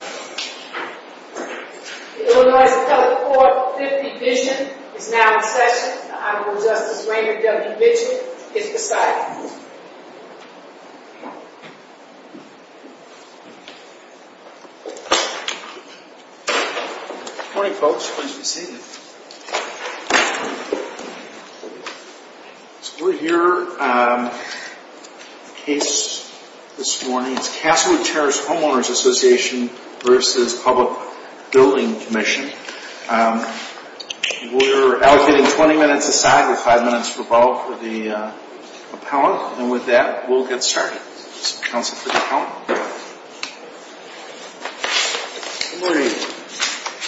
The Illinois Appellate Court 50 Vision is now in session. The Honorable Justice Rainer W. Mitchell is beside me. Good morning folks. Pleased to be seeing you. So we're here on a case this morning. It's Casswood Terrace Homeowners Association v. Public Building Commission. We're allocating 20 minutes a side with 5 minutes for both for the appellant. And with that we'll get started. This is counsel for the appellant. Good morning.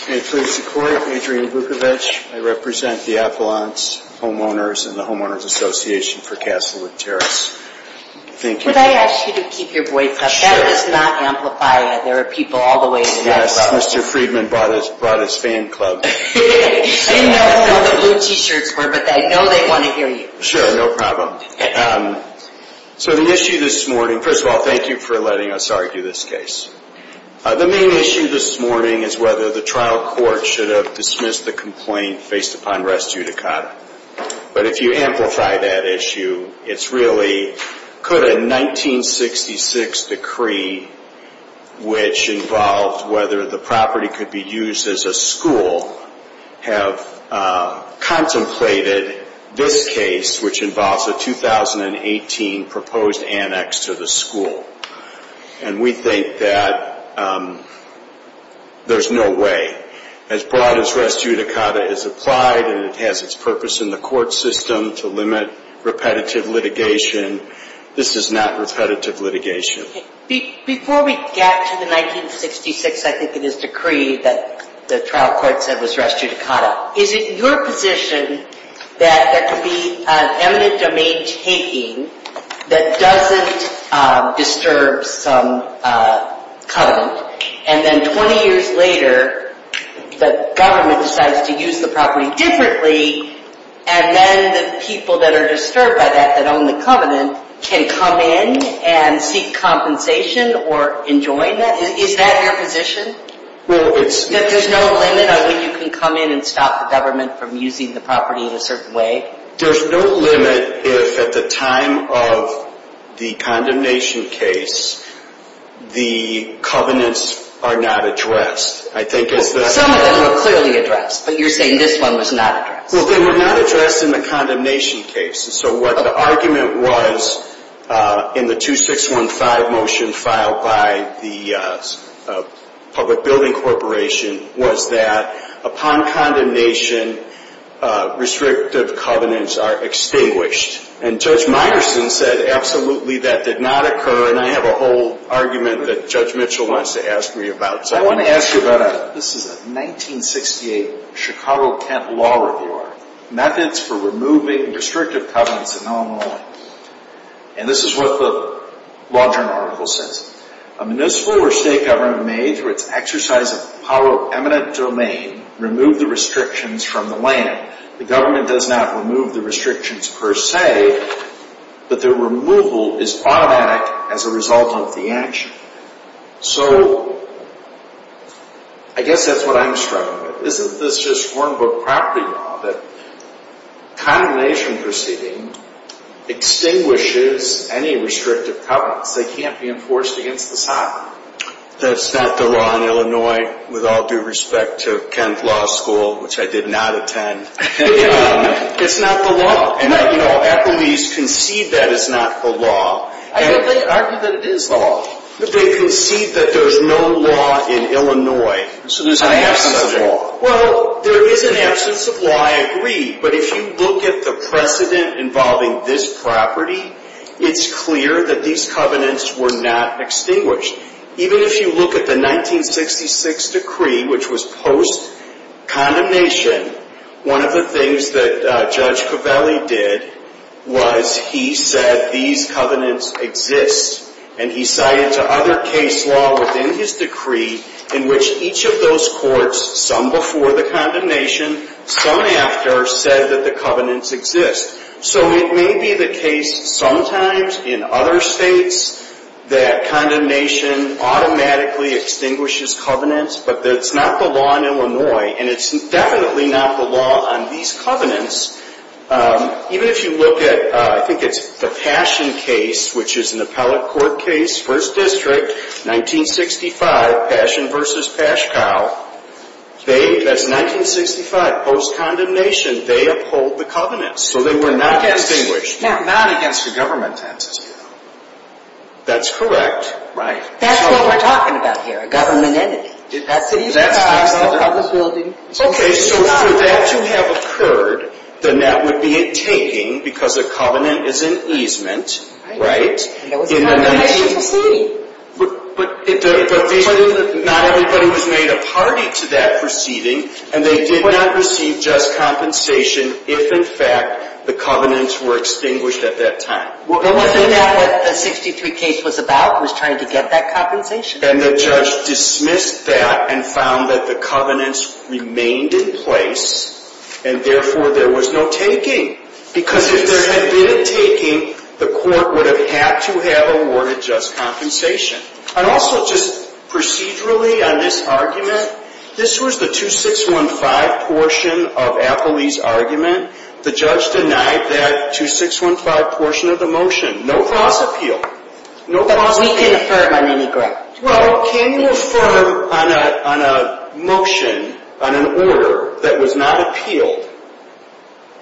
May it please the court. Adrian Vukovich. I represent the appellant's homeowners and the homeowners association for Casswood Terrace. Thank you. Would I ask you to keep your voice up? That does not amplify it. There are people all the way in the background. Yes. Mr. Friedman brought his fan club. I didn't know what the blue t-shirts were but I know they want to hear you. Sure. No problem. So the issue this morning, first of all thank you for letting us argue this case. The main issue this morning is whether the trial court should have dismissed the complaint based upon res judicata. But if you amplify that issue, it's really could a 1966 decree, which involved whether the property could be used as a school, have contemplated this case which involves a 2018 proposed annex to the school. And we think that there's no way. As broad as res judicata is applied and it has its purpose in the court system to limit repetitive litigation, this is not repetitive litigation. Before we get to the 1966, I think it is, decree that the trial court said was res judicata, is it your position that there could be an eminent domain taking that doesn't disturb some covenant? And then 20 years later, the government decides to use the property differently and then the people that are disturbed by that, that own the covenant, can come in and seek compensation or enjoin that? Is that your position? That there's no limit on when you can come in and stop the government from using the property in a certain way? There's no limit if at the time of the condemnation case, the covenants are not addressed. Some of them were clearly addressed, but you're saying this one was not addressed. Well, they were not addressed in the condemnation case. So what the argument was in the 2615 motion filed by the public building corporation was that upon condemnation, restrictive covenants are extinguished. And Judge Meyerson said absolutely that did not occur. And I have a whole argument that Judge Mitchell wants to ask me about. So I want to ask you about, this is a 1968 Chicago-Kent law review article, methods for removing restrictive covenants in Illinois. And this is what the law journal article says. A municipal or state government may, through its exercise of power of eminent domain, remove the restrictions from the land. The government does not remove the restrictions per se, but the removal is automatic as a result of the action. So I guess that's what I'm struggling with. Isn't this just form book property law that condemnation proceeding extinguishes any restrictive covenants? They can't be enforced against the sovereign. That's not the law in Illinois with all due respect to Kent Law School, which I did not attend. It's not the law. And, you know, Appleby's concede that it's not the law. I think they argue that it is the law. They concede that there's no law in Illinois. So there's an absence of law. Well, there is an absence of law, I agree. But if you look at the precedent involving this property, it's clear that these covenants were not extinguished. Even if you look at the 1966 decree, which was post-condemnation, one of the things that Judge Covelli did was he said these covenants exist, and he cited to other case law within his decree in which each of those courts, some before the condemnation, some after, said that the covenants exist. So it may be the case sometimes in other states that condemnation automatically extinguishes covenants, but it's not the law in Illinois, and it's definitely not the law on these covenants. Even if you look at, I think it's the Passion case, which is an appellate court case, 1st District, 1965, Passion v. Pashkow, that's 1965, post-condemnation, they uphold the covenants. So they were not extinguished. Not against the government entity. That's correct. That's what we're talking about here, a government entity. Okay, so for that to have occurred, then that would be a taking because a covenant is an easement, right? That was a condemnation proceeding. But not everybody was made a party to that proceeding, and they did not receive just compensation if, in fact, the covenants were extinguished at that time. But wasn't that what the 63 case was about, was trying to get that compensation? And the judge dismissed that and found that the covenants remained in place, and therefore there was no taking. Because if there had been a taking, the court would have had to have awarded just compensation. And also, just procedurally on this argument, this was the 2615 portion of Appley's argument. The judge denied that 2615 portion of the motion. No false appeal. But we can affirm on any ground. Well, can you affirm on a motion, on an order, that was not appealed?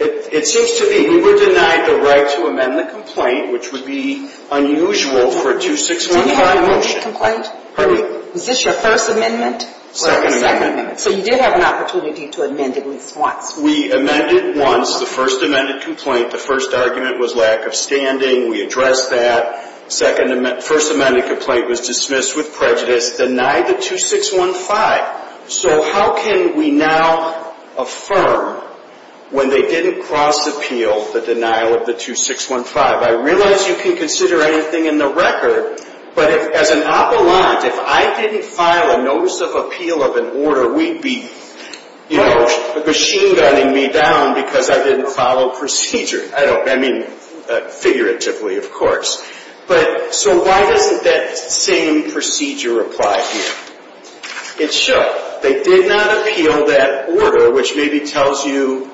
It seems to be we were denied the right to amend the complaint, which would be unusual for a 2615 motion. Do you have a motion complaint? Pardon me? Was this your first amendment? Second amendment. So you did have an opportunity to amend at least once. We amended once. The first amended complaint, the first argument was lack of standing. We addressed that. First amended complaint was dismissed with prejudice. Denied the 2615. So how can we now affirm when they didn't cross-appeal the denial of the 2615? I realize you can consider anything in the record, but as an appellant, if I didn't file a notice of appeal of an order, we'd be, you know, machine gunning me down because I didn't follow procedure. I mean, figuratively, of course. But so why doesn't that same procedure apply here? It should. They did not appeal that order, which maybe tells you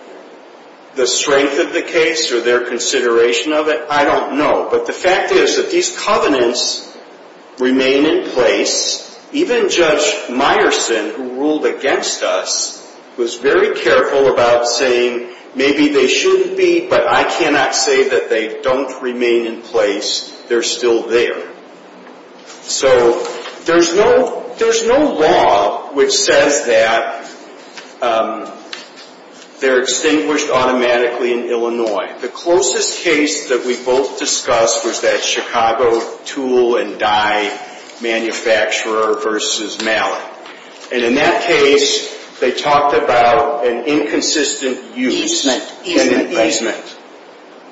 the strength of the case or their consideration of it. I don't know. But the fact is that these covenants remain in place. Even Judge Meyerson, who ruled against us, was very careful about saying maybe they shouldn't be, but I cannot say that they don't remain in place. They're still there. So there's no law which says that they're extinguished automatically in Illinois. The closest case that we both discussed was that Chicago tool and dye manufacturer versus Mallet. And in that case, they talked about an inconsistent use and an easement.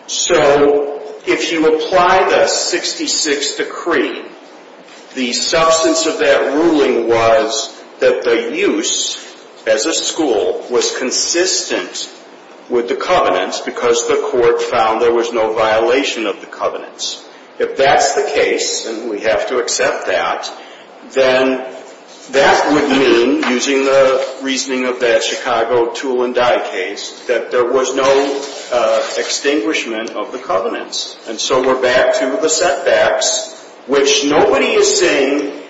So if you apply the 66 decree, the substance of that ruling was that the use, as a school, was consistent with the covenants because the court found there was no violation of the covenants. If that's the case, and we have to accept that, then that would mean, using the reasoning of that Chicago tool and dye case, that there was no extinguishment of the covenants. And so we're back to the setbacks, which nobody is saying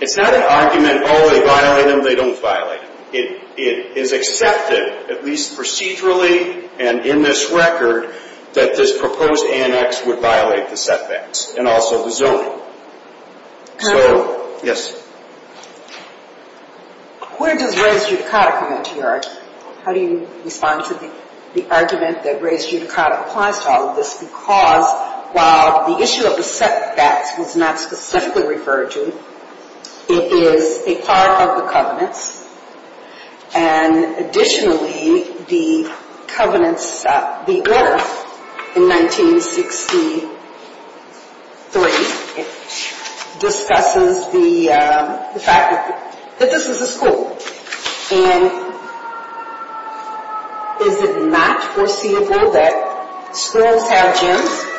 it's not an argument, oh, they violate them, they don't violate them. It is accepted, at least procedurally and in this record, that this proposed annex would violate the setbacks and also the zoning. Counsel? Yes. Where does res judicata come into your argument? How do you respond to the argument that res judicata applies to all of this? Because while the issue of the setbacks was not specifically referred to, it is a part of the covenants. And additionally, the covenants, the order in 1963 discusses the fact that this is a school. And is it not foreseeable that schools have gyms?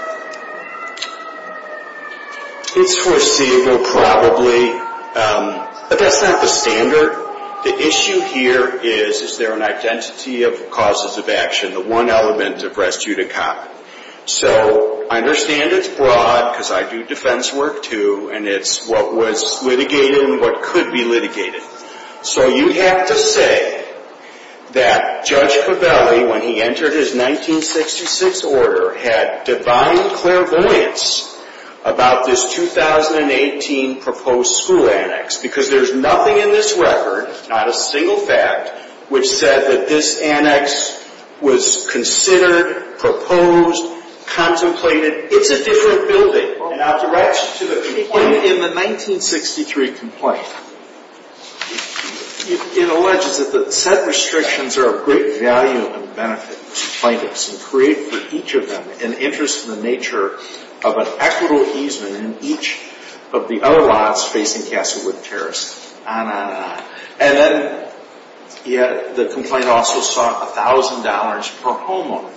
It's foreseeable probably, but that's not the standard. The issue here is, is there an identity of causes of action, the one element of res judicata. So I understand it's broad, because I do defense work, too, and it's what was litigated and what could be litigated. So you have to say that Judge Covelli, when he entered his 1966 order, had divine clairvoyance about this 2018 proposed school annex, because there's nothing in this record, not a single fact, which said that this annex was considered, proposed, contemplated. It's a different building. And I'll direct you to the complaint in the 1963 complaint. It alleges that the set restrictions are of great value and benefit to plaintiffs and create for each of them an interest in the nature of an equitable easement in each of the other lots facing Castlewood Terrace, on and on. And then the complaint also sought $1,000 per homeowner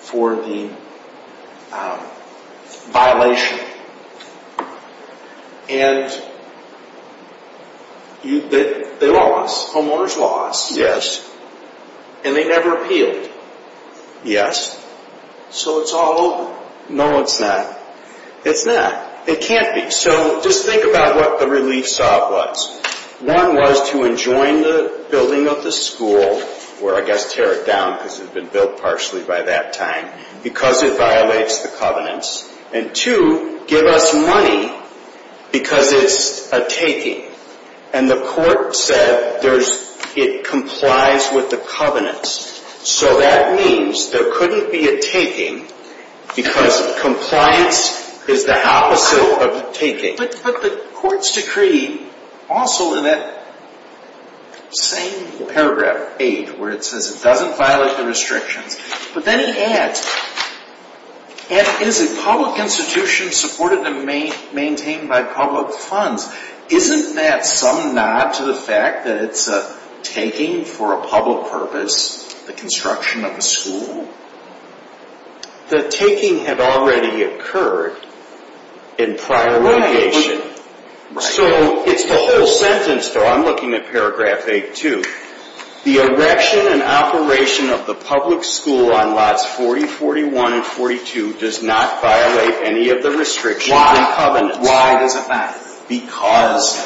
for the violation. And they lost. Homeowners lost. Yes. And they never appealed. Yes. So it's all over. No, it's not. It's not. It can't be. So just think about what the relief sub was. One was to enjoin the building of the school, or I guess tear it down because it had been built partially by that time, because it violates the covenants. And two, give us money because it's a taking. And the court said it complies with the covenants. So that means there couldn't be a taking because compliance is the opposite of taking. But the court's decree also in that same paragraph 8, where it says it doesn't violate the restrictions, but then it adds, and it is a public institution supported and maintained by public funds. Isn't that some nod to the fact that it's a taking for a public purpose, the construction of a school? The taking had already occurred in prior litigation. So it's the whole sentence, though. I'm looking at paragraph 8-2. The erection and operation of the public school on lots 40, 41, and 42 does not violate any of the restrictions and covenants. Why does it matter? Because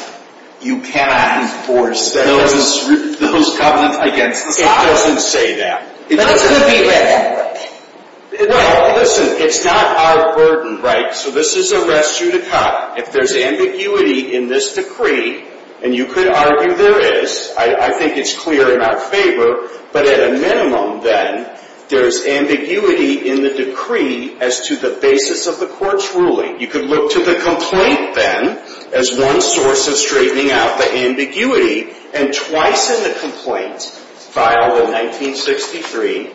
you cannot enforce those covenants against the sub. It doesn't say that. That's going to be written. No, listen, it's not our burden, right? So this is a res judicata. If there's ambiguity in this decree, and you could argue there is. I think it's clear in our favor. But at a minimum, then, there's ambiguity in the decree as to the basis of the court's ruling. You could look to the complaint, then, as one source of straightening out the ambiguity. And twice in the complaint, filed in 1963,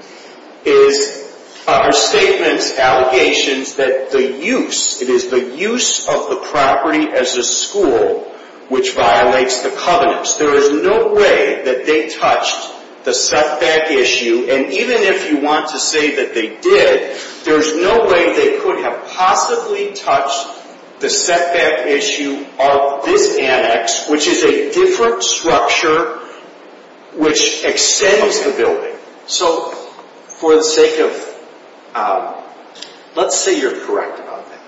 are statements, allegations, that the use, it is the use of the property as a school which violates the covenants. There is no way that they touched the setback issue. And even if you want to say that they did, there's no way they could have possibly touched the setback issue of this annex, which is a different structure which extends the building. So for the sake of, let's say you're correct about that.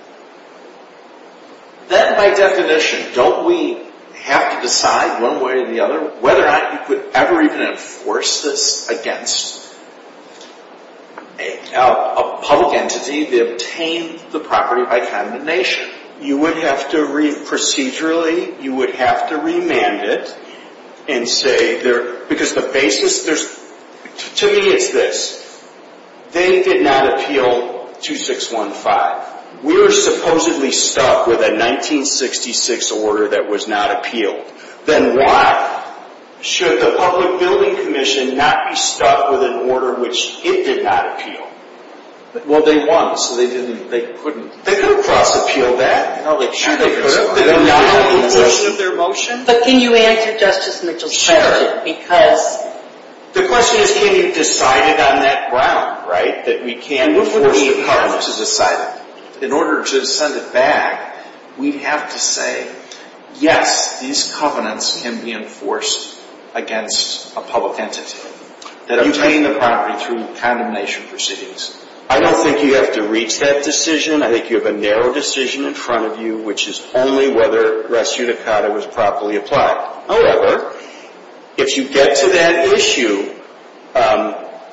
Then, by definition, don't we have to decide one way or the other whether or not you could ever even enforce this against a public entity that obtained the property by condemnation? You would have to read procedurally. You would have to remand it and say, because the basis, to me, it's this. They did not appeal 2615. We were supposedly stuck with a 1966 order that was not appealed. Then why should the Public Building Commission not be stuck with an order which it did not appeal? Well, they won, so they couldn't cross-appeal that. But can you answer Justice Mitchell's question? Because? The question is can you decide it on that ground, right, that we can enforce the covenant to decide it? In order to send it back, we have to say, yes, these covenants can be enforced against a public entity that obtained the property through condemnation procedures. I don't think you have to reach that decision. I think you have a narrow decision in front of you, which is only whether res judicata was properly applied. However, if you get to that issue,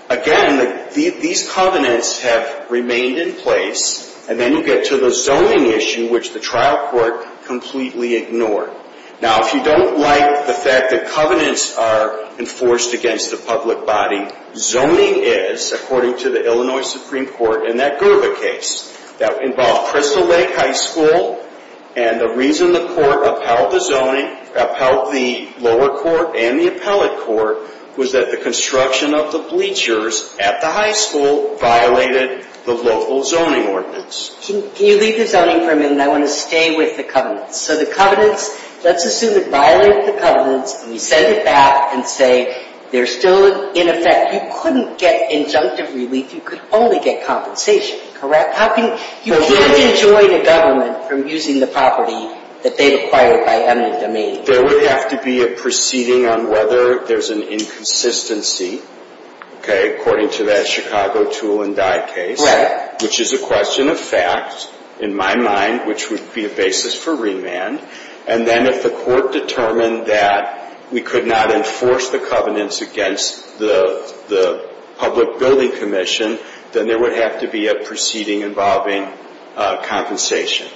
again, these covenants have remained in place, and then you get to the zoning issue, which the trial court completely ignored. Now, if you don't like the fact that covenants are enforced against a public body, zoning is, according to the Illinois Supreme Court in that Gerva case that involved Crystal Lake High School, and the reason the court upheld the zoning, upheld the lower court and the appellate court, was that the construction of the bleachers at the high school violated the local zoning ordinance. Can you leave the zoning for a minute? I want to stay with the covenants. So the covenants, let's assume it violated the covenants, and we send it back and say they're still in effect. You couldn't get injunctive relief. You could only get compensation, correct? You can't enjoin a government from using the property that they've acquired by eminent domain. There would have to be a proceeding on whether there's an inconsistency, okay, according to that Chicago tool and dye case, which is a question of fact in my mind, which would be a basis for remand. And then if the court determined that we could not enforce the covenants against the public building commission, then there would have to be a proceeding involving compensation.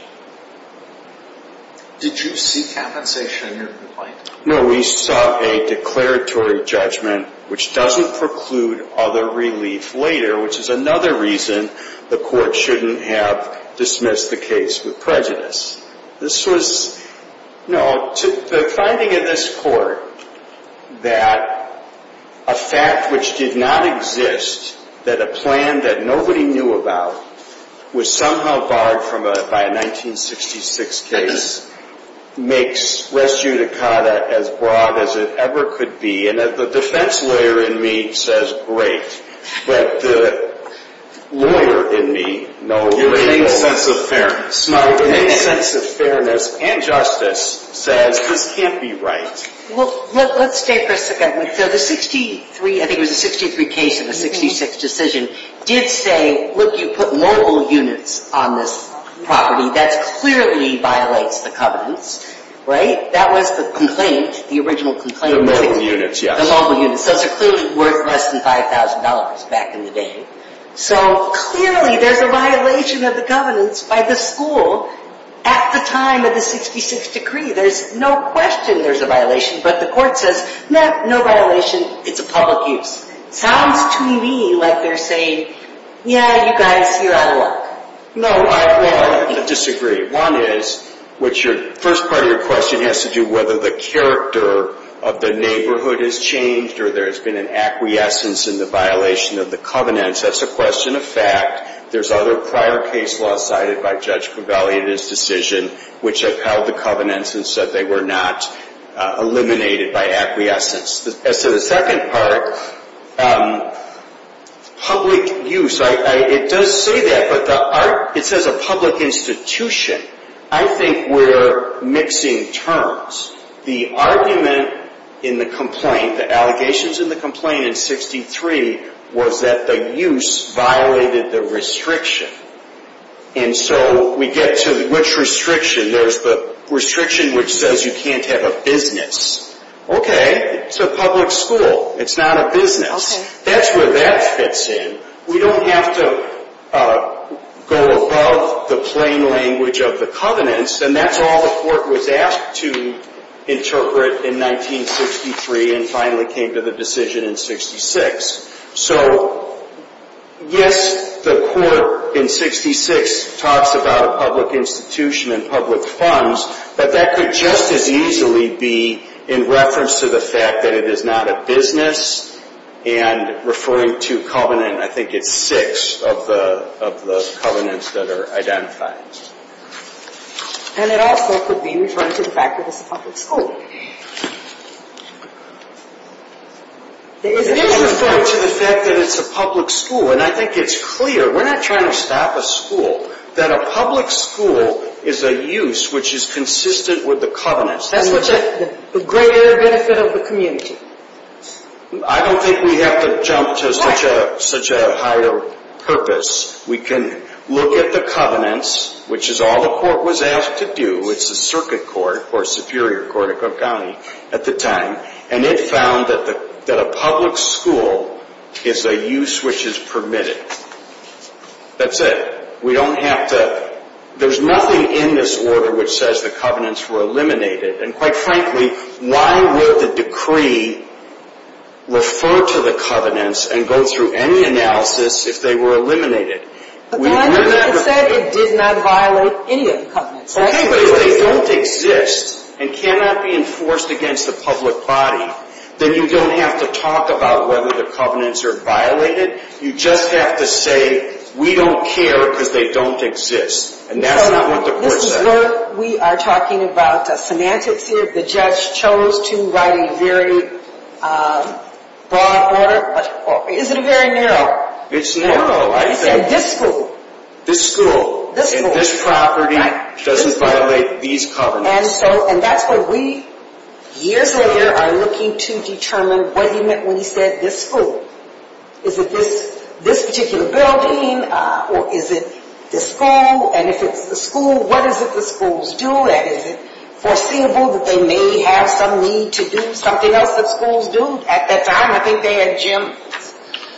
Did you see compensation in your complaint? No, we saw a declaratory judgment, which doesn't preclude other relief later, which is another reason the court shouldn't have dismissed the case with prejudice. The finding in this court that a fact which did not exist, that a plan that nobody knew about was somehow barred by a 1966 case, makes res judicata as broad as it ever could be. And the defense lawyer in me says, great. But the lawyer in me, no label. Your main sense of fairness. My main sense of fairness and justice says this can't be right. Well, let's stay for a second. So the 63, I think it was a 63 case and a 66 decision, did say, look, you put multiple units on this property. That clearly violates the covenants, right? That was the complaint, the original complaint. The multiple units, yes. The multiple units. Those are clearly worth less than $5,000 back in the day. So clearly there's a violation of the covenants by the school at the time of the 66 decree. There's no question there's a violation. But the court says, no, no violation. It's a public use. Sounds to me like they're saying, yeah, you guys, you're out of luck. No, I disagree. One is, the first part of your question has to do with whether the character of the neighborhood has changed or there's been an acquiescence in the violation of the covenants. That's a question of fact. There's other prior case laws cited by Judge Covelli in his decision which upheld the covenants and said they were not eliminated by acquiescence. As to the second part, public use, it does say that, but it says a public institution. I think we're mixing terms. The argument in the complaint, the allegations in the complaint in 63 was that the use violated the restriction. And so we get to which restriction? There's the restriction which says you can't have a business. Okay, it's a public school. It's not a business. That's where that fits in. We don't have to go above the plain language of the covenants. And that's all the court was asked to interpret in 1963 and finally came to the decision in 66. So yes, the court in 66 talks about a public institution and public funds, but that could just as easily be in reference to the fact that it is not a business and referring to covenant. I think it's six of the covenants that are identified. And it also could be referring to the fact that it's a public school. It is referring to the fact that it's a public school, and I think it's clear. We're not trying to stop a school. That a public school is a use which is consistent with the covenants. That's the greater benefit of the community. I don't think we have to jump to such a higher purpose. We can look at the covenants, which is all the court was asked to do. It's the circuit court, or superior court at Crook County at the time. And it found that a public school is a use which is permitted. That's it. We don't have to. There's nothing in this order which says the covenants were eliminated. And quite frankly, why would the decree refer to the covenants and go through any analysis if they were eliminated? It said it did not violate any of the covenants. Okay, but if they don't exist and cannot be enforced against the public body, then you don't have to talk about whether the covenants are violated. You just have to say, we don't care because they don't exist. And that's not what the court said. We are talking about semantics here. The judge chose to write a very broad order. Is it a very narrow? It's narrow. He said this school. This school. And this property doesn't violate these covenants. And that's what we, years later, are looking to determine what he meant when he said this school. Is it this particular building? Or is it this school? And if it's the school, what is it the schools do? Is it foreseeable that they may have some need to do something else that schools do? At that time, I think they had gyms.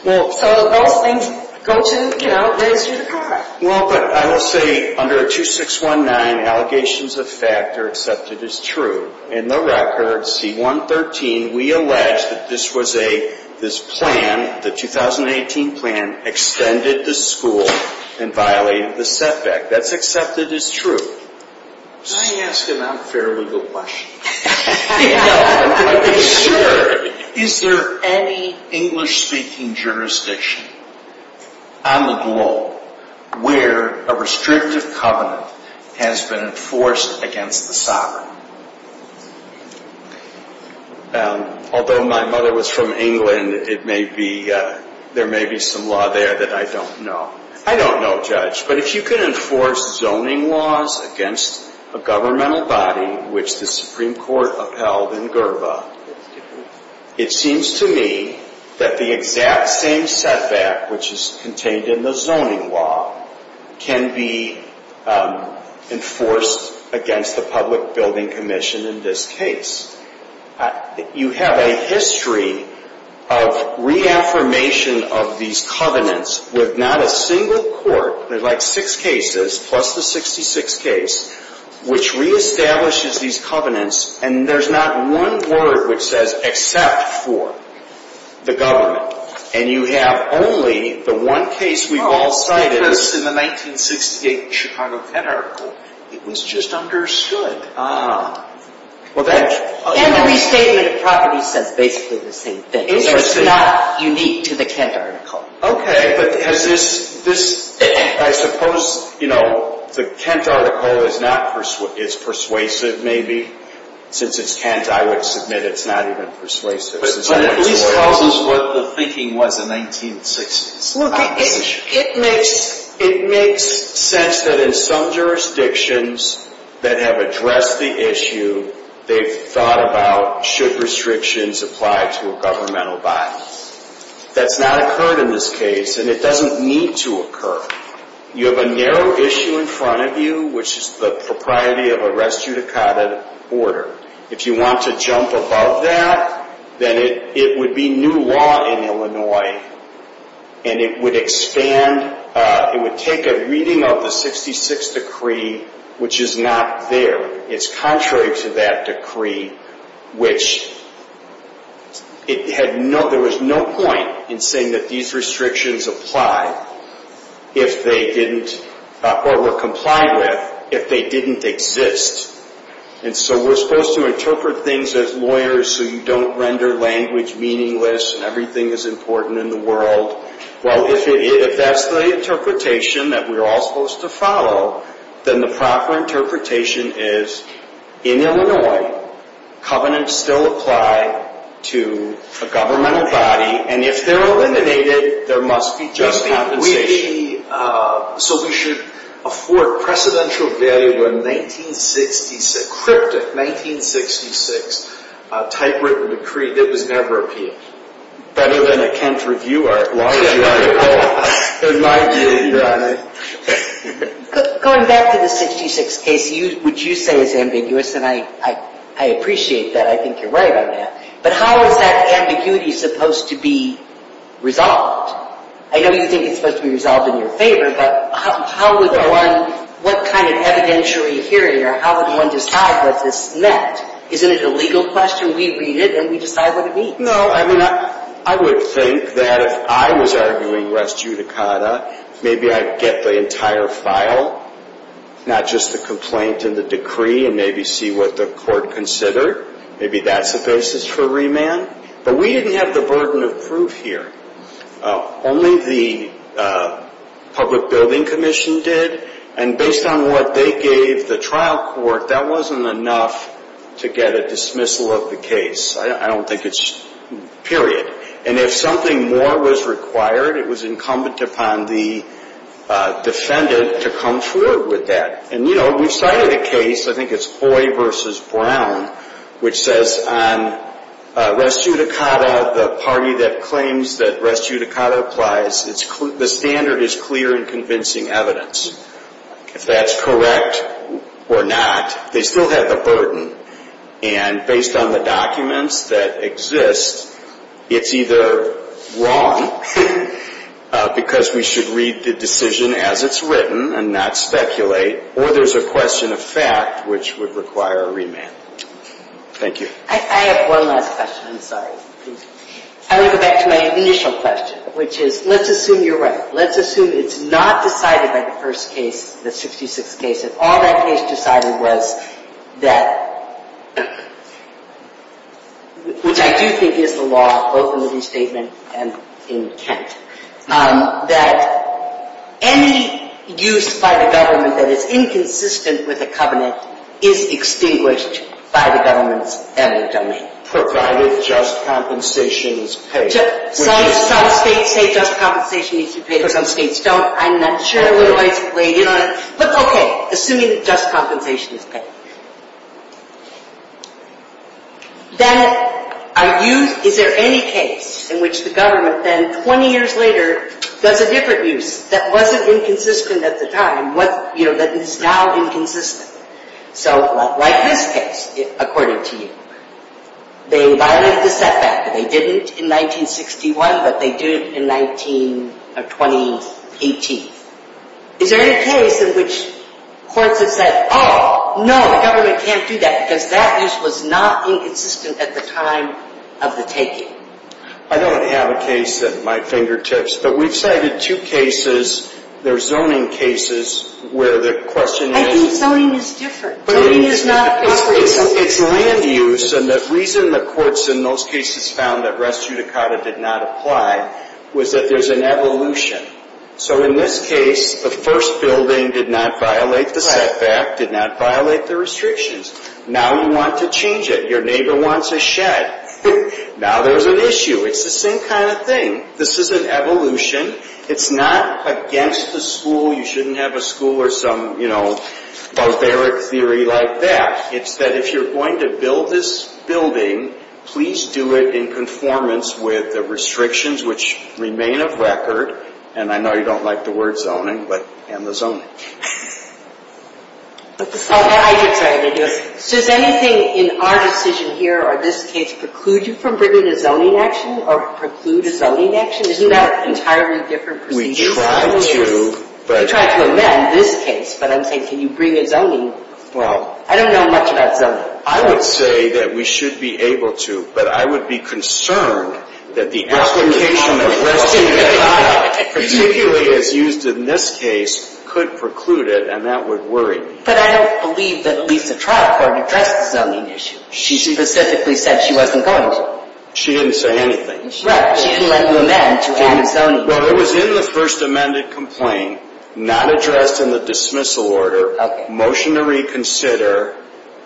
So those things go to, you know, raise you the card. Well, but I will say under 2619, allegations of fact are accepted as true. In the record, C-113, we allege that this was a, this plan, the 2018 plan, extended the school and violated the setback. That's accepted as true. Can I ask an unfair legal question? Sure. Is there any English-speaking jurisdiction on the globe where a restrictive covenant has been enforced against the sovereign? Although my mother was from England, it may be, there may be some law there that I don't know. I don't know, Judge. But if you can enforce zoning laws against a governmental body, which the Supreme Court upheld in Gerba, it seems to me that the exact same setback, which is contained in the zoning law, can be enforced against the Public Building Commission in this case. You have a history of reaffirmation of these covenants with not a single court. There's like six cases, plus the 66th case, which reestablishes these covenants. And there's not one board which says except for the government. And you have only the one case we've all cited. Because in the 1968 Chicago Pet article, it was just understood. And the restatement of property says basically the same thing. It's just not unique to the Kent article. Okay, but has this, I suppose, you know, the Kent article is persuasive maybe. Since it's Kent, I would submit it's not even persuasive. But it at least tells us what the thinking was in the 1960s. It makes sense that in some jurisdictions that have addressed the issue, they've thought about should restrictions apply to a governmental body. That's not occurred in this case, and it doesn't need to occur. You have a narrow issue in front of you, which is the propriety of a res judicata order. If you want to jump above that, then it would be new law in Illinois. And it would expand, it would take a reading of the 66th decree, which is not there. It's contrary to that decree, which it had no, there was no point in saying that these restrictions apply. If they didn't, or were complied with, if they didn't exist. And so we're supposed to interpret things as lawyers, so you don't render language meaningless, and everything is important in the world. Well, if that's the interpretation that we're all supposed to follow, then the proper interpretation is in Illinois, covenants still apply to a governmental body. And if they're eliminated, there must be just compensation. So we should afford precedential value in 1966, cryptic 1966, typewritten decree that was never appealed. Better than a Kent reviewer. Going back to the 66th case, which you say is ambiguous, and I appreciate that. I think you're right on that. But how is that ambiguity supposed to be resolved? I know you think it's supposed to be resolved in your favor, but how would one, what kind of evidence are we hearing, or how would one decide what this meant? Isn't it a legal question? We read it and we decide what it means. No, I mean, I would think that if I was arguing res judicata, maybe I'd get the entire file, not just the complaint and the decree, and maybe see what the court considered. Maybe that's the basis for remand. But we didn't have the burden of proof here. Only the public building commission did. And based on what they gave the trial court, that wasn't enough to get a dismissal of the case. I don't think it's, period. And if something more was required, it was incumbent upon the defendant to come forward with that. And, you know, we've cited a case, I think it's Hoy versus Brown, which says on res judicata, the party that claims that res judicata applies, the standard is clear in convincing evidence. If that's correct or not, they still have the burden. And based on the documents that exist, it's either wrong, because we should read the decision as it's written and not speculate, or there's a question of fact which would require a remand. Thank you. I have one last question, I'm sorry. I want to go back to my initial question, which is, let's assume you're right. Let's assume it's not decided by the first case, the 66th case, if all that case decided was that, which I do think is the law, both in the restatement and in Kent, that any use by the government that is inconsistent with the covenant is extinguished by the government's end of domain. Provided just compensation is paid. Some states say just compensation needs to be paid. Some states don't. I'm not sure what advice you've laid in on it. But, okay, assuming just compensation is paid. Then, is there any case in which the government then, 20 years later, does a different use that wasn't inconsistent at the time, that is now inconsistent? So, like this case, according to you. They violated the setback. They didn't in 1961, but they did in 2018. Is there any case in which courts have said, oh, no, the government can't do that because that use was not inconsistent at the time of the taking? I don't have a case at my fingertips. But we've cited two cases. They're zoning cases where the question is. I think zoning is different. Zoning is not appropriate zoning. It's land use. And the reason the courts in those cases found that res judicata did not apply was that there's an evolution. So, in this case, the first building did not violate the setback, did not violate the restrictions. Now you want to change it. Your neighbor wants a shed. Now there's an issue. It's the same kind of thing. This is an evolution. It's not against the school. You shouldn't have a school or some, you know, barbaric theory like that. It's that if you're going to build this building, please do it in conformance with the restrictions, which remain of record. And I know you don't like the word zoning, but end the zoning. So is anything in our decision here or this case preclude you from bringing a zoning action or preclude a zoning action? Isn't that an entirely different procedure? We try to. We try to amend this case. But I'm saying can you bring a zoning? Well. I don't know much about zoning. I would say that we should be able to. But I would be concerned that the application. Particularly as used in this case could preclude it, and that would worry me. But I don't believe that at least the trial court addressed the zoning issue. She specifically said she wasn't going to. She didn't say anything. Right. She didn't let you amend to add a zoning. Well, it was in the first amended complaint, not addressed in the dismissal order. Okay. Motion to reconsider,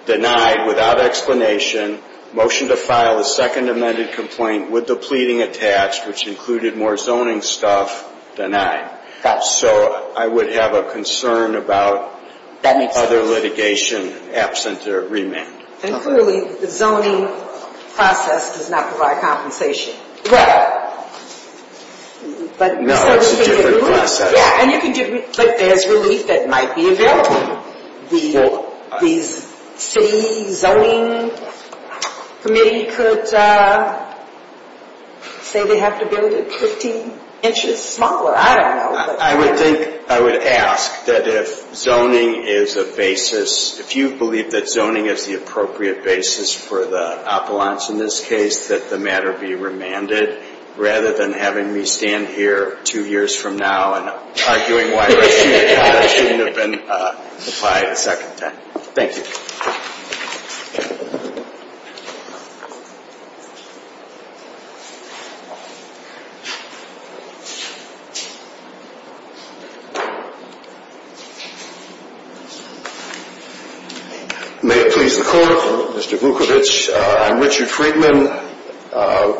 denied without explanation. Motion to file a second amended complaint with the pleading attached, which included more zoning stuff, denied. Got it. So I would have a concern about other litigation absent a remand. And clearly the zoning process does not provide compensation. Right. No, it's a different process. Yeah, and you can do it as relief that might be available. The city zoning committee could say they have to build it 15 inches smaller. I don't know. I would think, I would ask that if zoning is a basis, if you believe that zoning is the appropriate basis for the appellants in this case, that the matter be remanded, rather than having me stand here two years from now and arguing why it shouldn't have been applied a second time. Thank you. May it please the Court, Mr. Vukovich, I'm Richard Friedman,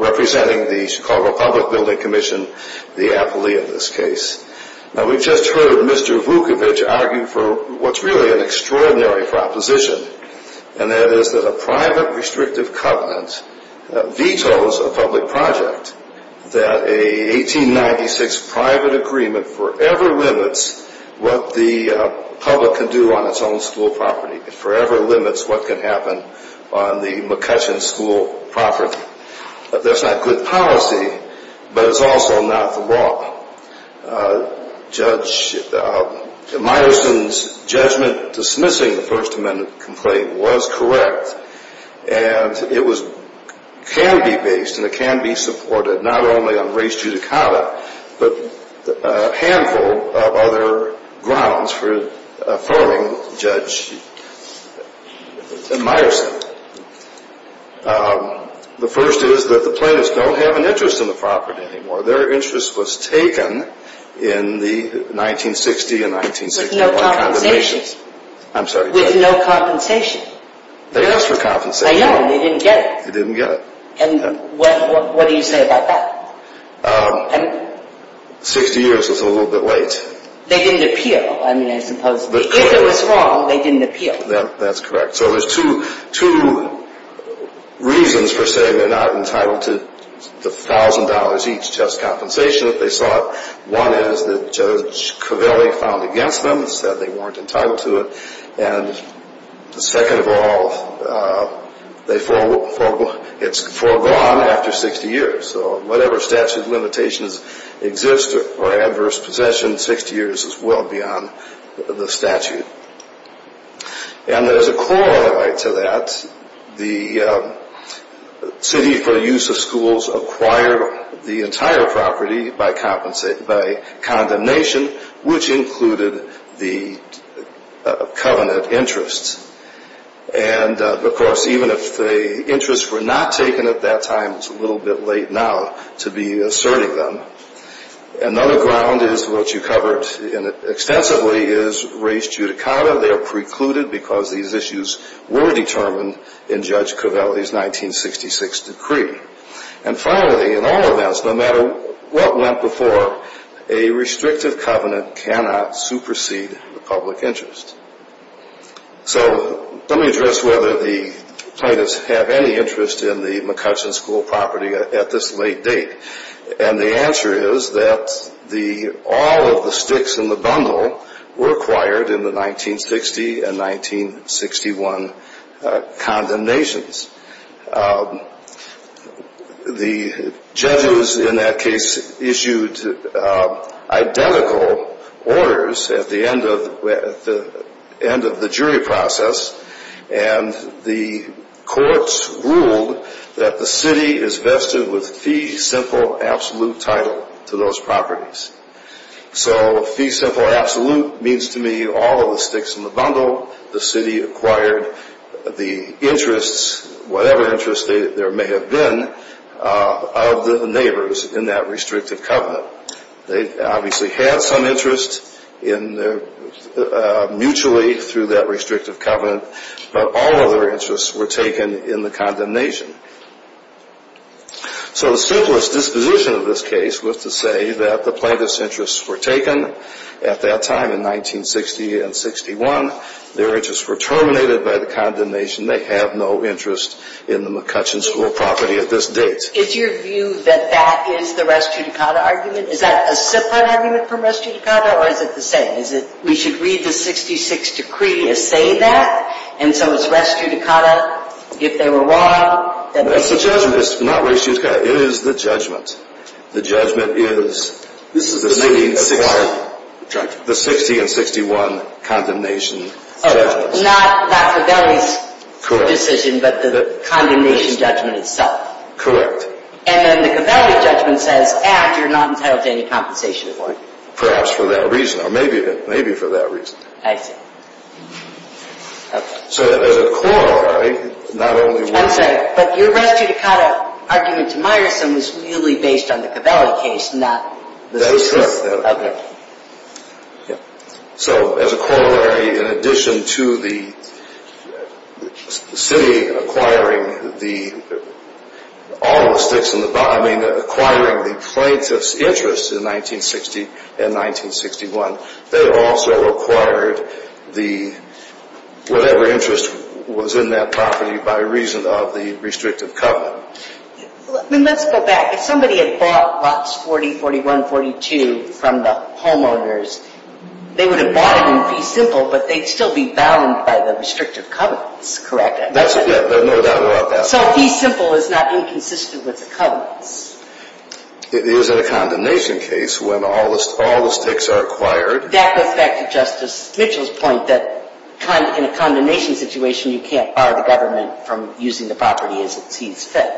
representing the Chicago Public Building Commission, the appellee in this case. Now, we've just heard Mr. Vukovich argue for what's really an extraordinary proposition, and that is that a private restrictive covenant vetoes a public project, that a 1896 private agreement forever limits what the public can do on its own school property. It forever limits what can happen on the McCutcheon School property. That's not good policy, but it's also not the law. Judge Meyerson's judgment dismissing the First Amendment complaint was correct, and it can be based and it can be supported, not only on res judicata, but a handful of other grounds for affirming Judge Meyerson. The first is that the plaintiffs don't have an interest in the property anymore. Their interest was taken in the 1960 and 1961 condemnations. I'm sorry, Judge. With no compensation. They asked for compensation. I know, and they didn't get it. They didn't get it. And what do you say about that? 60 years is a little bit late. They didn't appeal, I mean, I suppose. If it was wrong, they didn't appeal. That's correct. So there's two reasons for saying they're not entitled to the $1,000 each just compensation if they sought. One is that Judge Covelli filed against them and said they weren't entitled to it. And second of all, it's foregone after 60 years. So whatever statute of limitations exists for adverse possession, 60 years is well beyond the statute. And there's a corollary to that. The city, for the use of schools, acquired the entire property by condemnation, which included the covenant interests. And, of course, even if the interests were not taken at that time, it's a little bit late now to be asserting them. Another ground is what you covered extensively is res judicata. They are precluded because these issues were determined in Judge Covelli's 1966 decree. And finally, in all events, no matter what went before, a restrictive covenant cannot supersede the public interest. So let me address whether the plaintiffs have any interest in the McCutcheon School property at this late date. And the answer is that all of the sticks in the bundle were acquired in the 1960 and 1961 condemnations. The judges in that case issued identical orders at the end of the jury process. And the courts ruled that the city is vested with fee, simple, absolute title to those properties. So fee, simple, absolute means to me all of the sticks in the bundle. The city acquired the interests, whatever interests there may have been, of the neighbors in that restrictive covenant. They obviously had some interest mutually through that restrictive covenant, but all of their interests were taken in the condemnation. So the simplest disposition of this case was to say that the plaintiffs' interests were taken at that time in 1960 and 61. Their interests were terminated by the condemnation. They have no interest in the McCutcheon School property at this date. Is your view that that is the res judicata argument? Is that a separate argument from res judicata, or is it the same? Is it we should read the 66 decree as saying that, and so it's res judicata if they were wrong? It's the judgment. It's not res judicata. It is the judgment. The judgment is the 1960 and 61 condemnation judgment. Not Favelli's decision, but the condemnation judgment itself. Correct. And then the Favelli judgment says, after not entitled to any compensation award. Perhaps for that reason, or maybe for that reason. I see. Okay. So as a corollary, not only were... I'm sorry, but your res judicata argument to Meyerson was really based on the Favelli case, not the... That's correct. Okay. Yeah. So as a corollary, in addition to the city acquiring all the sticks in the... I mean acquiring the plaintiff's interest in 1960 and 1961, they also acquired whatever interest was in that property by reason of the restrictive covenant. Let's go back. If somebody had bought lots 40, 41, 42 from the homeowners, they would have bought it in fee simple, but they'd still be bound by the restrictive covenants, correct? That's correct. There's no doubt about that. So fee simple is not inconsistent with the covenants. It is in a condemnation case when all the sticks are acquired. That goes back to Justice Mitchell's point that in a condemnation situation, you can't bar the government from using the property as it sees fit.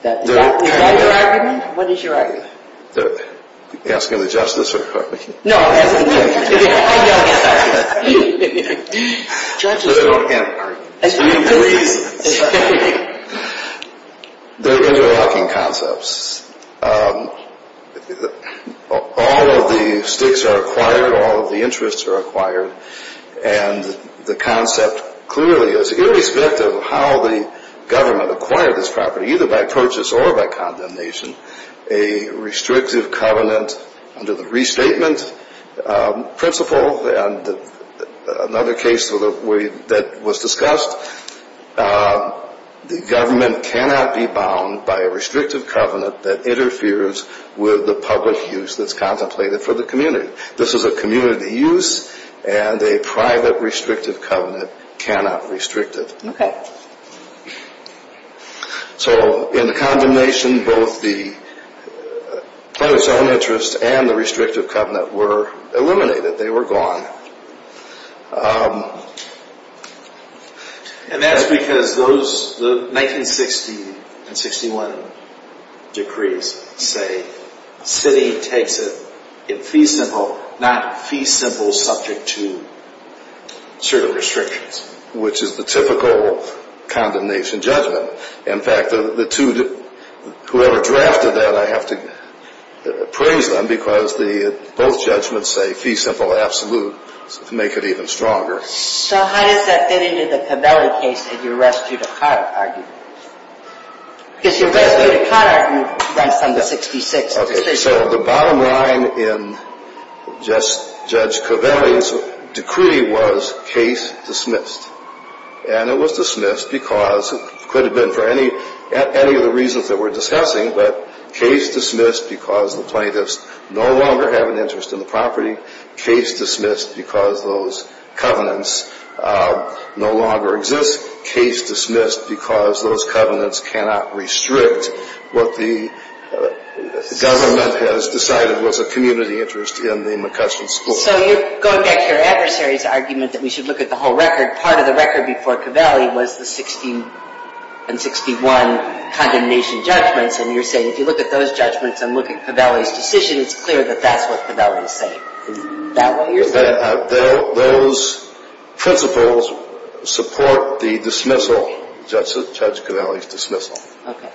Is that your argument? What is your argument? Are you asking the justice or me? No, I'm asking you. I'm asking you. Judges don't have arguments. Please. They're interlocking concepts. All of the sticks are acquired, all of the interests are acquired, and the concept clearly is, irrespective of how the government acquired this property, either by purchase or by condemnation, a restrictive covenant under the restatement principle and another case that was discussed, the government cannot be bound by a restrictive covenant that interferes with the public use that's contemplated for the community. This is a community use, and a private restrictive covenant cannot restrict it. So in the condemnation, both the public's own interests and the restrictive covenant were eliminated. They were gone. And that's because the 1960 and 61 decrees say sitting takes it in fee simple, not fee simple subject to certain restrictions. Which is the typical condemnation judgment. In fact, whoever drafted that, I have to praise them, because both judgments say fee simple absolute to make it even stronger. So how does that fit into the Covelli case in your res judicata argument? Because your res judicata argument runs from the 66th decision. So the bottom line in Judge Covelli's decree was case dismissed. And it was dismissed because it could have been for any of the reasons that we're discussing, but case dismissed because the plaintiffs no longer have an interest in the property. Case dismissed because those covenants no longer exist. Case dismissed because those covenants cannot restrict what the government has decided was a community interest in the McCutcheon school. So you're going back to your adversary's argument that we should look at the whole record. Part of the record before Covelli was the 60 and 61 condemnation judgments, and you're saying if you look at those judgments and look at Covelli's decision, it's clear that that's what Covelli is saying. Is that what you're saying? Those principles support the dismissal, Judge Covelli's dismissal. Okay.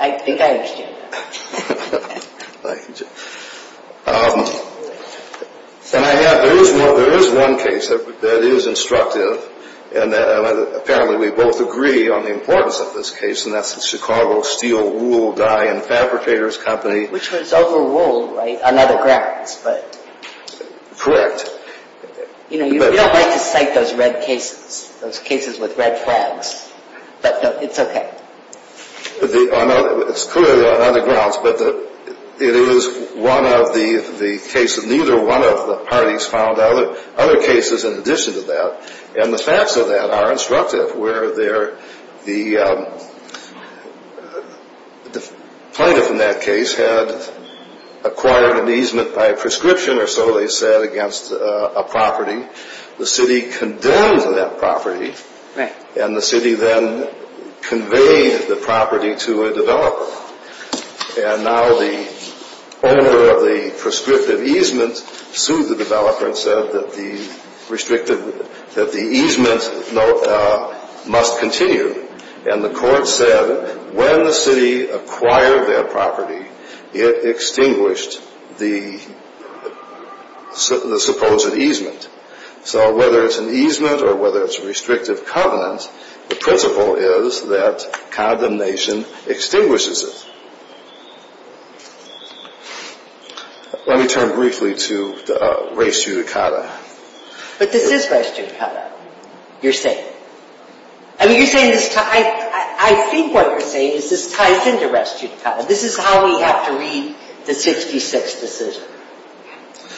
I think I understand that. There is one case that is instructive, and apparently we both agree on the importance of this case, and that's the Chicago Steel Wool Dye and Fabricators Company. Which was over wool, right, on other grounds. Correct. You know, you don't like to cite those red cases, those cases with red flags, but it's okay. It's clearly on other grounds, but it is one of the cases. Neither one of the parties found other cases in addition to that. And the facts of that are instructive, where the plaintiff in that case had acquired an easement by prescription or so they said against a property. The city condemned that property, and the city then conveyed the property to a developer. And now the owner of the prescriptive easement sued the developer and said that the easement must continue. And the court said when the city acquired that property, it extinguished the supposed easement. So whether it's an easement or whether it's a restrictive covenant, the principle is that condemnation extinguishes it. Let me turn briefly to race judicata. But this is race judicata, you're saying. I think what you're saying is this ties into race judicata. This is how we have to read the 66 decision.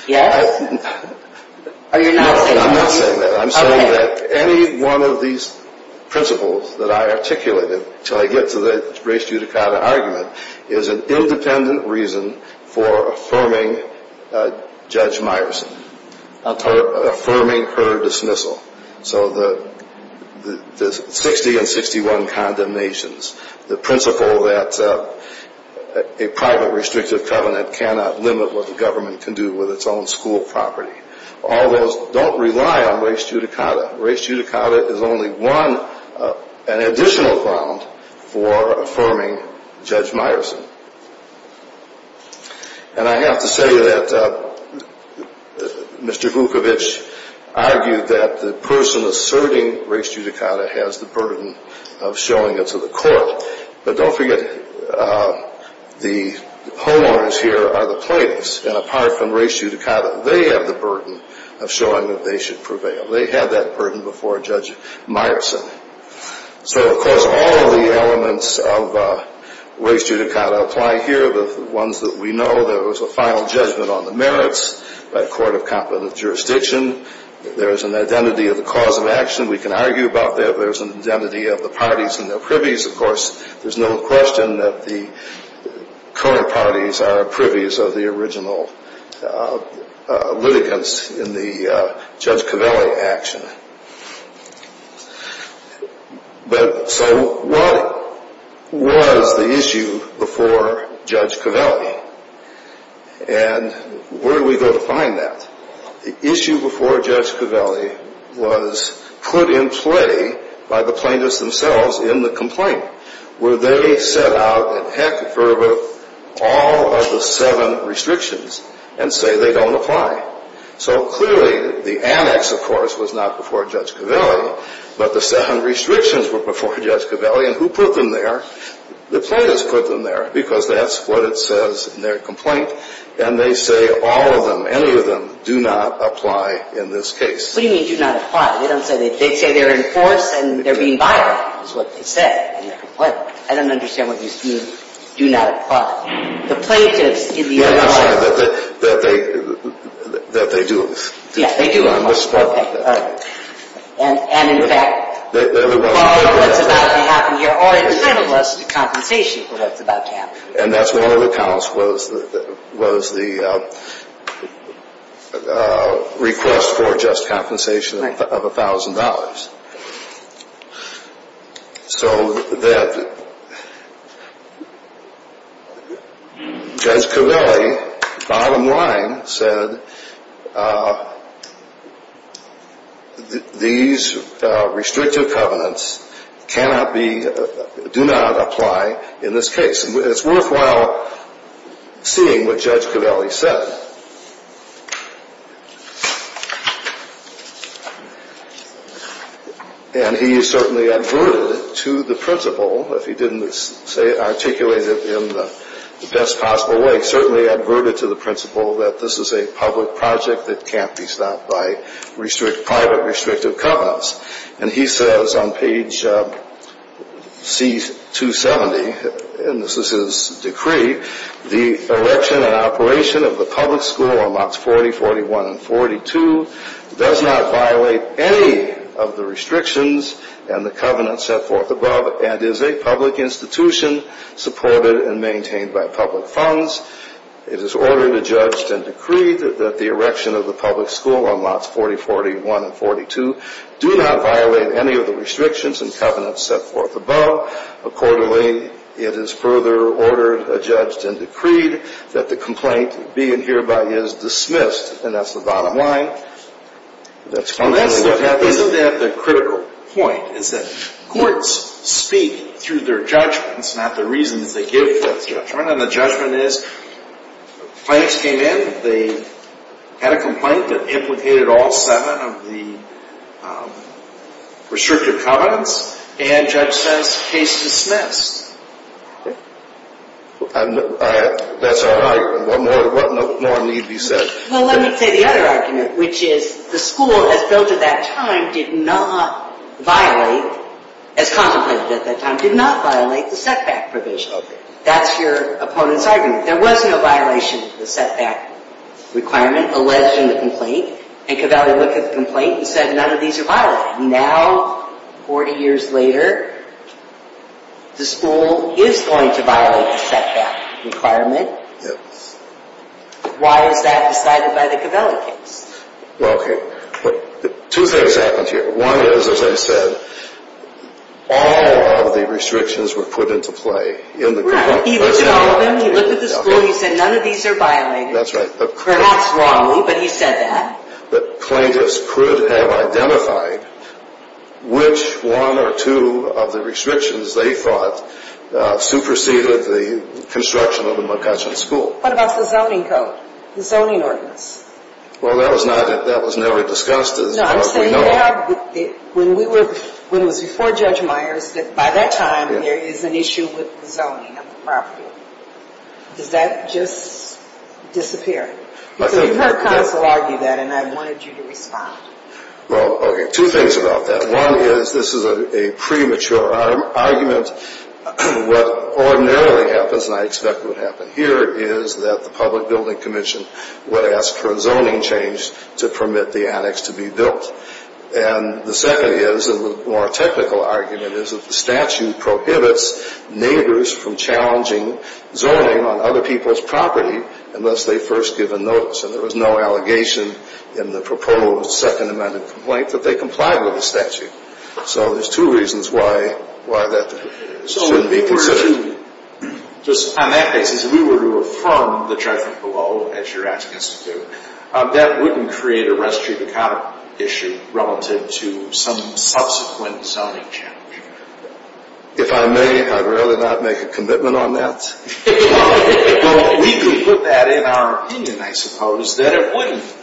Yes? No, I'm not saying that. I'm saying that any one of these principles that I articulated until I get to the race judicata argument is an independent reason for affirming Judge Meyerson. Affirming her dismissal. So the 60 and 61 condemnations, the principle that a private restrictive covenant cannot limit what the government can do with its own school property. All those don't rely on race judicata. Race judicata is only one additional ground for affirming Judge Meyerson. And I have to say that Mr. Vukovich argued that the person asserting race judicata has the burden of showing it to the court. But don't forget the homeowners here are the plaintiffs. And apart from race judicata, they have the burden of showing that they should prevail. They had that burden before Judge Meyerson. So, of course, all of the elements of race judicata apply here. The ones that we know, there was a final judgment on the merits by a court of competent jurisdiction. There is an identity of the cause of action. We can argue about that. There's an identity of the parties and their privies. Of course, there's no question that the current parties are privies of the original litigants in the Judge Covelli action. But so what was the issue before Judge Covelli? And where do we go to find that? The issue before Judge Covelli was put in play by the plaintiffs themselves in the complaint, where they set out in heck and fervor all of the seven restrictions and say they don't apply. So, clearly, the annex, of course, was not before Judge Covelli. But the seven restrictions were before Judge Covelli. And who put them there? The plaintiffs put them there because that's what it says in their complaint. And they say all of them, any of them, do not apply in this case. What do you mean do not apply? They don't say they're in force and they're being violated is what they said in their complaint. I don't understand what you mean do not apply. The plaintiffs in the other case. That they do it. Yeah, they do it. Okay. And, in fact, what's about to happen here are entitled us to compensation for what's about to happen. And that's one of the counts was the request for just compensation of $1,000. So that Judge Covelli, bottom line, said these restrictive covenants cannot be, do not apply in this case. And it's worthwhile seeing what Judge Covelli said. And he certainly adverted to the principle, if he didn't articulate it in the best possible way, certainly adverted to the principle that this is a public project that can't be stopped by private restrictive covenants. And he says on page C270, and this is his decree, the election and operation of the public school on lots 40, 41, and 42 does not violate any of the restrictions and the covenants set forth above and is a public institution supported and maintained by public funds. It is ordered, adjudged, and decreed that the erection of the public school on lots 40, 41, and 42 do not violate any of the restrictions and covenants set forth above. Accordingly, it is further ordered, adjudged, and decreed that the complaint being hereby is dismissed. And that's the bottom line. Isn't that the critical point is that courts speak through their judgments, not the reasons they give for judgment. And the judgment is the plaintiffs came in. They had a complaint that implicated all seven of the restrictive covenants. And the judge says case dismissed. That's all right. What more need be said? Well, let me say the other argument, which is the school as built at that time did not violate, as contemplated at that time, did not violate the setback provision. That's your opponent's argument. There was no violation of the setback requirement alleged in the complaint. And Covelli looked at the complaint and said none of these are violated. Now, 40 years later, the school is going to violate the setback requirement. Why is that decided by the Covelli case? Well, okay. Two things happened here. One is, as I said, all of the restrictions were put into play. Right. He looked at all of them. He looked at the school. He said none of these are violated. That's right. Perhaps wrongly, but he said that. But plaintiffs could have identified which one or two of the restrictions they thought superseded the construction of the McCutcheon School. What about the zoning code, the zoning ordinance? Well, that was never discussed as far as we know. No, I'm saying you have, when it was before Judge Myers, that by that time there is an issue with zoning on the property. Does that just disappear? Because you heard counsel argue that, and I wanted you to respond. Well, okay. Two things about that. One is, this is a premature argument. What ordinarily happens, and I expect would happen here, is that the Public Building Commission would ask for a zoning change to permit the attics to be built. And the second is, and the more technical argument is, that the statute prohibits neighbors from challenging zoning on other people's property unless they first give a notice. And there was no allegation in the proposed Second Amendment complaint that they complied with the statute. So there's two reasons why that shouldn't be considered. Two, just on that basis, if we were to affirm the judgment below, as you're asking us to do, that wouldn't create a restriction issue relative to some subsequent zoning change. If I may, I'd rather not make a commitment on that. We can put that in our opinion, I suppose, that it wouldn't.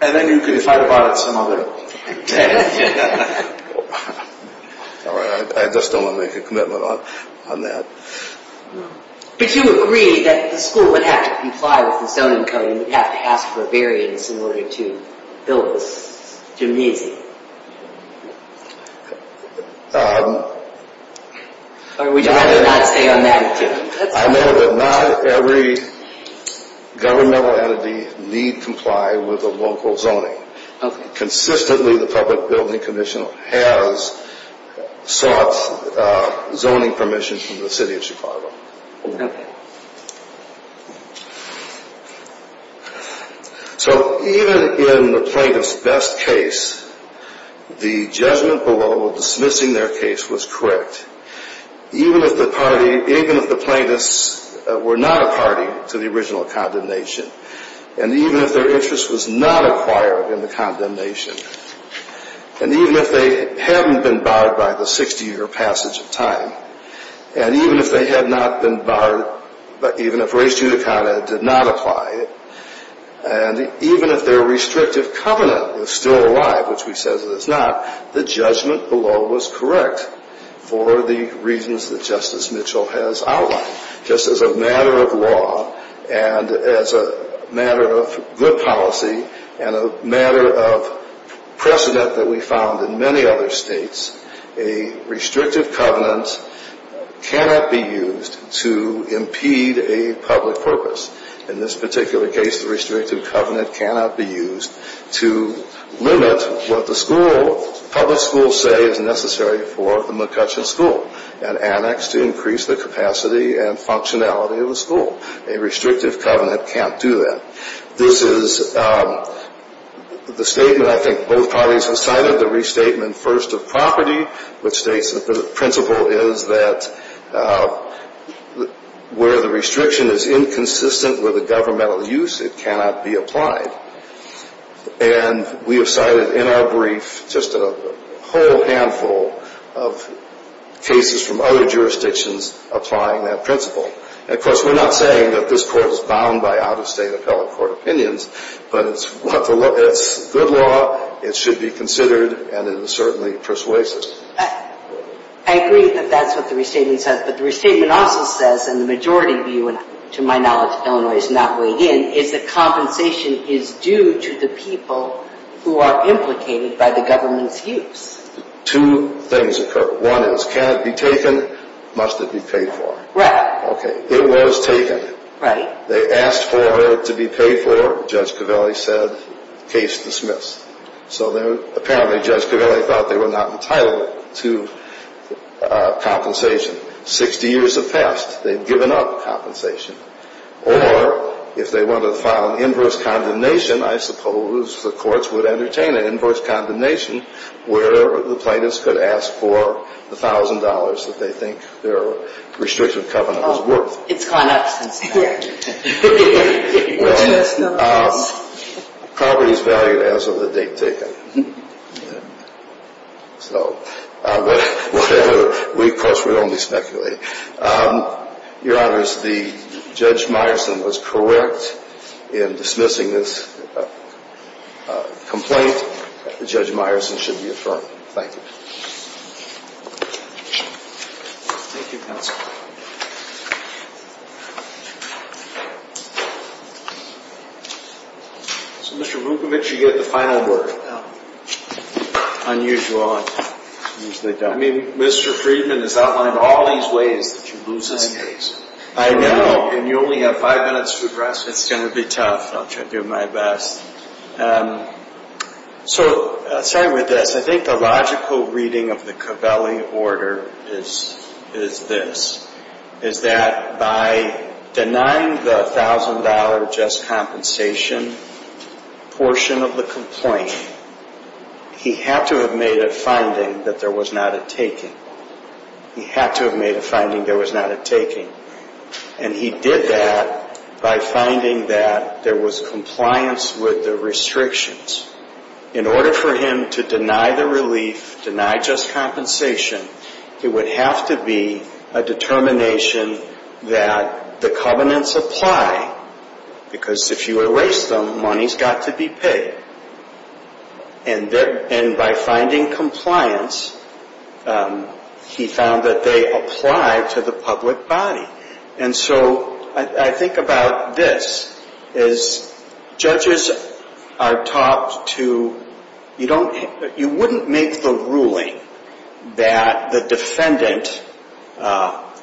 And then you can fight about it some other day. I just don't want to make a commitment on that. Would you agree that the school would have to comply with the zoning code and would have to ask for a variance in order to build this gymnasium? Or would you rather not stay on that? I know that not every governmental entity need comply with the local zoning. Consistently, the Public Building Commission has sought zoning permission from the city of Chicago. Okay. So even in the plaintiff's best case, the judgment below of dismissing their case was correct. Even if the plaintiffs were not a party to the original condemnation, and even if their interest was not acquired in the condemnation, and even if they hadn't been barred by the 60-year passage of time, and even if they had not been barred, even if Res Judicata did not apply, and even if their restrictive covenant was still alive, which we say that it's not, the judgment below was correct for the reasons that Justice Mitchell has outlined. Just as a matter of law and as a matter of good policy and a matter of precedent that we found in many other states, a restrictive covenant cannot be used to impede a public purpose. In this particular case, the restrictive covenant cannot be used to limit what the school, public schools say is necessary for the McCutcheon School, an annex to increase the capacity and functionality of the school. A restrictive covenant can't do that. This is the statement I think both parties have cited, the restatement first of property, which states that the principle is that where the restriction is inconsistent with the governmental use, it cannot be applied. And we have cited in our brief just a whole handful of cases from other jurisdictions applying that principle. Of course, we're not saying that this Court is bound by out-of-state appellate court opinions, but it's good law, it should be considered, and it is certainly persuasive. I agree that that's what the restatement says, but the restatement also says, and the majority view to my knowledge of Illinois is not weighed in, is that compensation is due to the people who are implicated by the government's use. Two things occur. One is, can it be taken? Must it be paid for? Right. Okay. It was taken. Right. They asked for it to be paid for. Judge Covelli said, case dismissed. So apparently Judge Covelli thought they were not entitled to compensation. Sixty years have passed. They've given up compensation. Or if they wanted to file an inverse condemnation, I suppose the courts would entertain an inverse condemnation where the plaintiffs could ask for the thousand dollars that they think their restricted covenant was worth. It's gone up since then. Right. Property is valued as of the date taken. So whatever, we of course would only speculate. Your Honors, the Judge Meyerson was correct in dismissing this complaint. Judge Meyerson should be affirmed. Thank you. Thank you, Counsel. So, Mr. Vukovic, you get the final word. Unusual. I mean, Mr. Friedman has outlined all these ways that you lose this case. I know. And you only have five minutes to address it. It's going to be tough. I'll try to do my best. So starting with this, I think the logical reading of the Covelli order is this, is that by denying the thousand-dollar just compensation portion of the complaint, he had to have made a finding that there was not a taking. He had to have made a finding there was not a taking. And he did that by finding that there was compliance with the restrictions. In order for him to deny the relief, deny just compensation, it would have to be a determination that the covenants apply, because if you erase them, money's got to be paid. And by finding compliance, he found that they apply to the public body. And so I think about this, is judges are taught to, you don't, you wouldn't make the ruling that the defendant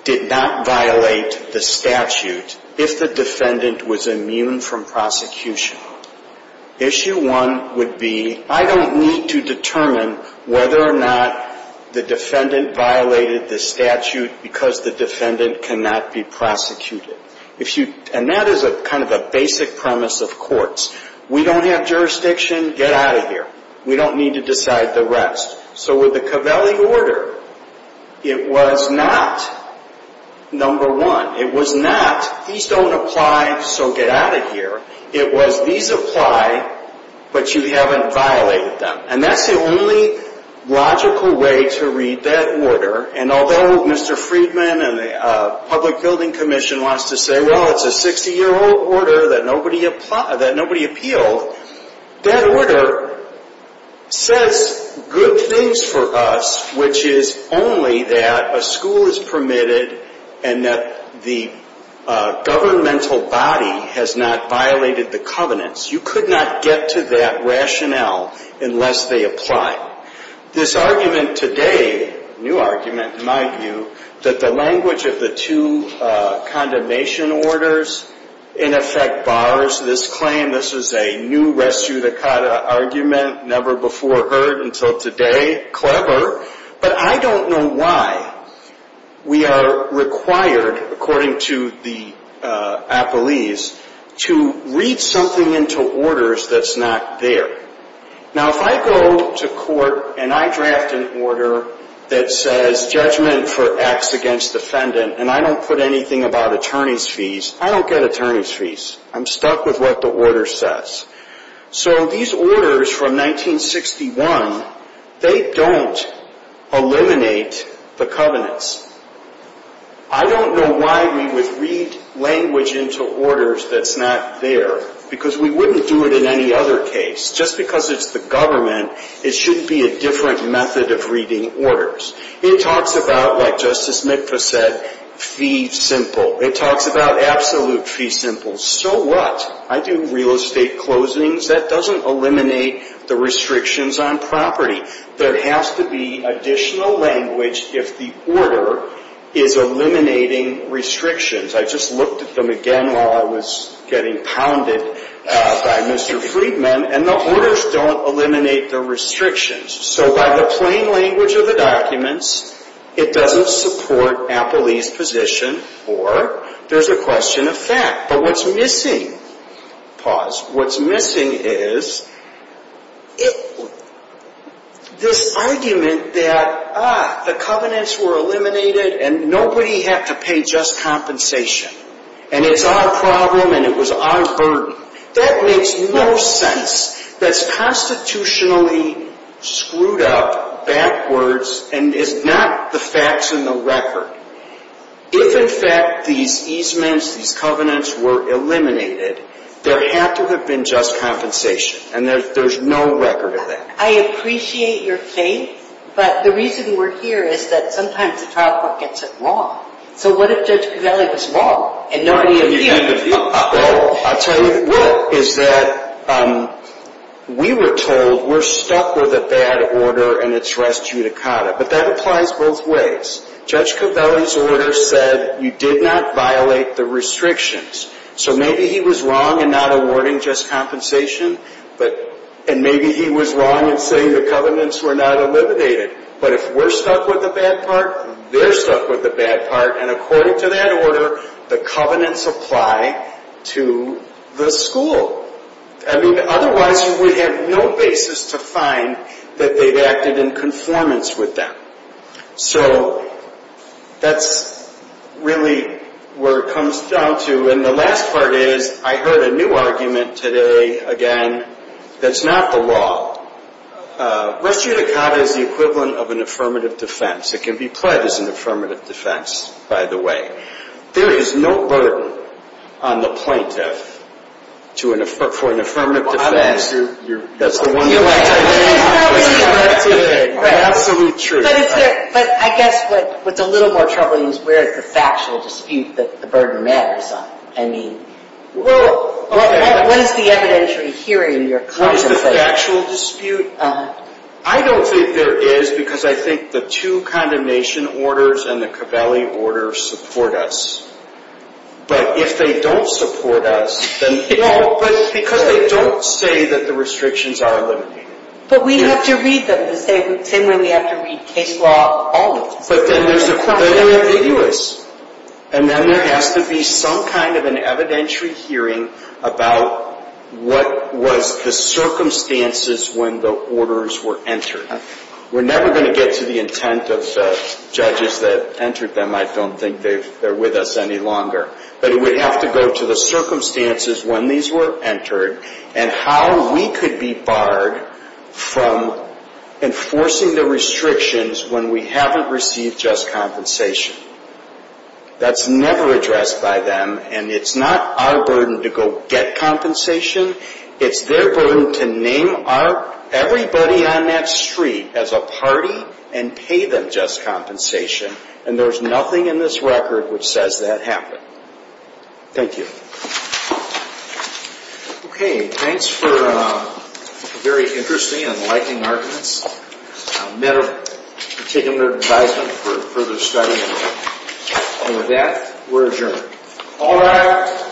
did not violate the statute if the defendant was immune from prosecution. Issue one would be, I don't need to determine whether or not the defendant violated the statute because the defendant cannot be prosecuted. And that is kind of a basic premise of courts. We don't have jurisdiction, get out of here. We don't need to decide the rest. So with the Covelli order, it was not number one. It was not, these don't apply, so get out of here. It was, these apply, but you haven't violated them. And that's the only logical way to read that order. And although Mr. Friedman and the Public Building Commission wants to say, well, it's a 60-year-old order that nobody appealed, that order says good things for us, which is only that a school is permitted and that the governmental body has not violated the covenants. You could not get to that rationale unless they apply. This argument today, new argument in my view, that the language of the two condemnation orders in effect bars this claim. This is a new res judicata argument, never before heard until today, clever. But I don't know why we are required, according to the appellees, to read something into orders that's not there. Now, if I go to court and I draft an order that says judgment for acts against defendant and I don't put anything about attorney's fees, I don't get attorney's fees. I'm stuck with what the order says. So these orders from 1961, they don't eliminate the covenants. I don't know why we would read language into orders that's not there because we wouldn't do it in any other case. Just because it's the government, it shouldn't be a different method of reading orders. It talks about, like Justice Mikva said, fee simple. It talks about absolute fee simple. So what? I do real estate closings. That doesn't eliminate the restrictions on property. There has to be additional language if the order is eliminating restrictions. I just looked at them again while I was getting pounded by Mr. Friedman, and the orders don't eliminate the restrictions. So by the plain language of the documents, it doesn't support appellee's position or there's a question of fact. But what's missing, pause, what's missing is this argument that, ah, the covenants were eliminated and nobody had to pay just compensation, and it's our problem and it was our burden. That makes no sense. That's constitutionally screwed up backwards, and it's not the facts and the record. If, in fact, these easements, these covenants were eliminated, there had to have been just compensation, and there's no record of that. I appreciate your faith, but the reason we're here is that sometimes the trial court gets it wrong. So what if Judge Covelli was wrong and nobody appealed? Well, I'll tell you what, is that we were told we're stuck with a bad order and it's res judicata, but that applies both ways. Judge Covelli's order said you did not violate the restrictions. So maybe he was wrong in not awarding just compensation, and maybe he was wrong in saying the covenants were not eliminated. But if we're stuck with the bad part, they're stuck with the bad part, and according to that order, the covenants apply to the school. I mean, otherwise you would have no basis to find that they've acted in conformance with them. So that's really where it comes down to. And the last part is I heard a new argument today, again, that's not the law. Res judicata is the equivalent of an affirmative defense. It can be pledged as an affirmative defense, by the way. There is no burden on the plaintiff for an affirmative defense. That's absolutely true. But I guess what's a little more troubling is where the factual dispute that the burden matters. I mean, what is the evidentiary here in your contemplation? What is the factual dispute? I don't think there is because I think the two condemnation orders and the Covelli order support us. But if they don't support us, then no, because they don't say that the restrictions are eliminated. But we have to read them the same way we have to read case law. But then they're ambiguous. And then there has to be some kind of an evidentiary hearing about what was the circumstances when the orders were entered. We're never going to get to the intent of the judges that entered them. I don't think they're with us any longer. But it would have to go to the circumstances when these were entered and how we could be barred from enforcing the restrictions when we haven't received just compensation. That's never addressed by them. And it's not our burden to go get compensation. It's their burden to name everybody on that street as a party and pay them just compensation. And there's nothing in this record which says that happened. Thank you. Okay. Thanks for a very interesting and liking arguments. I'll take them under advisement for further study. And with that, we're adjourned. All rise.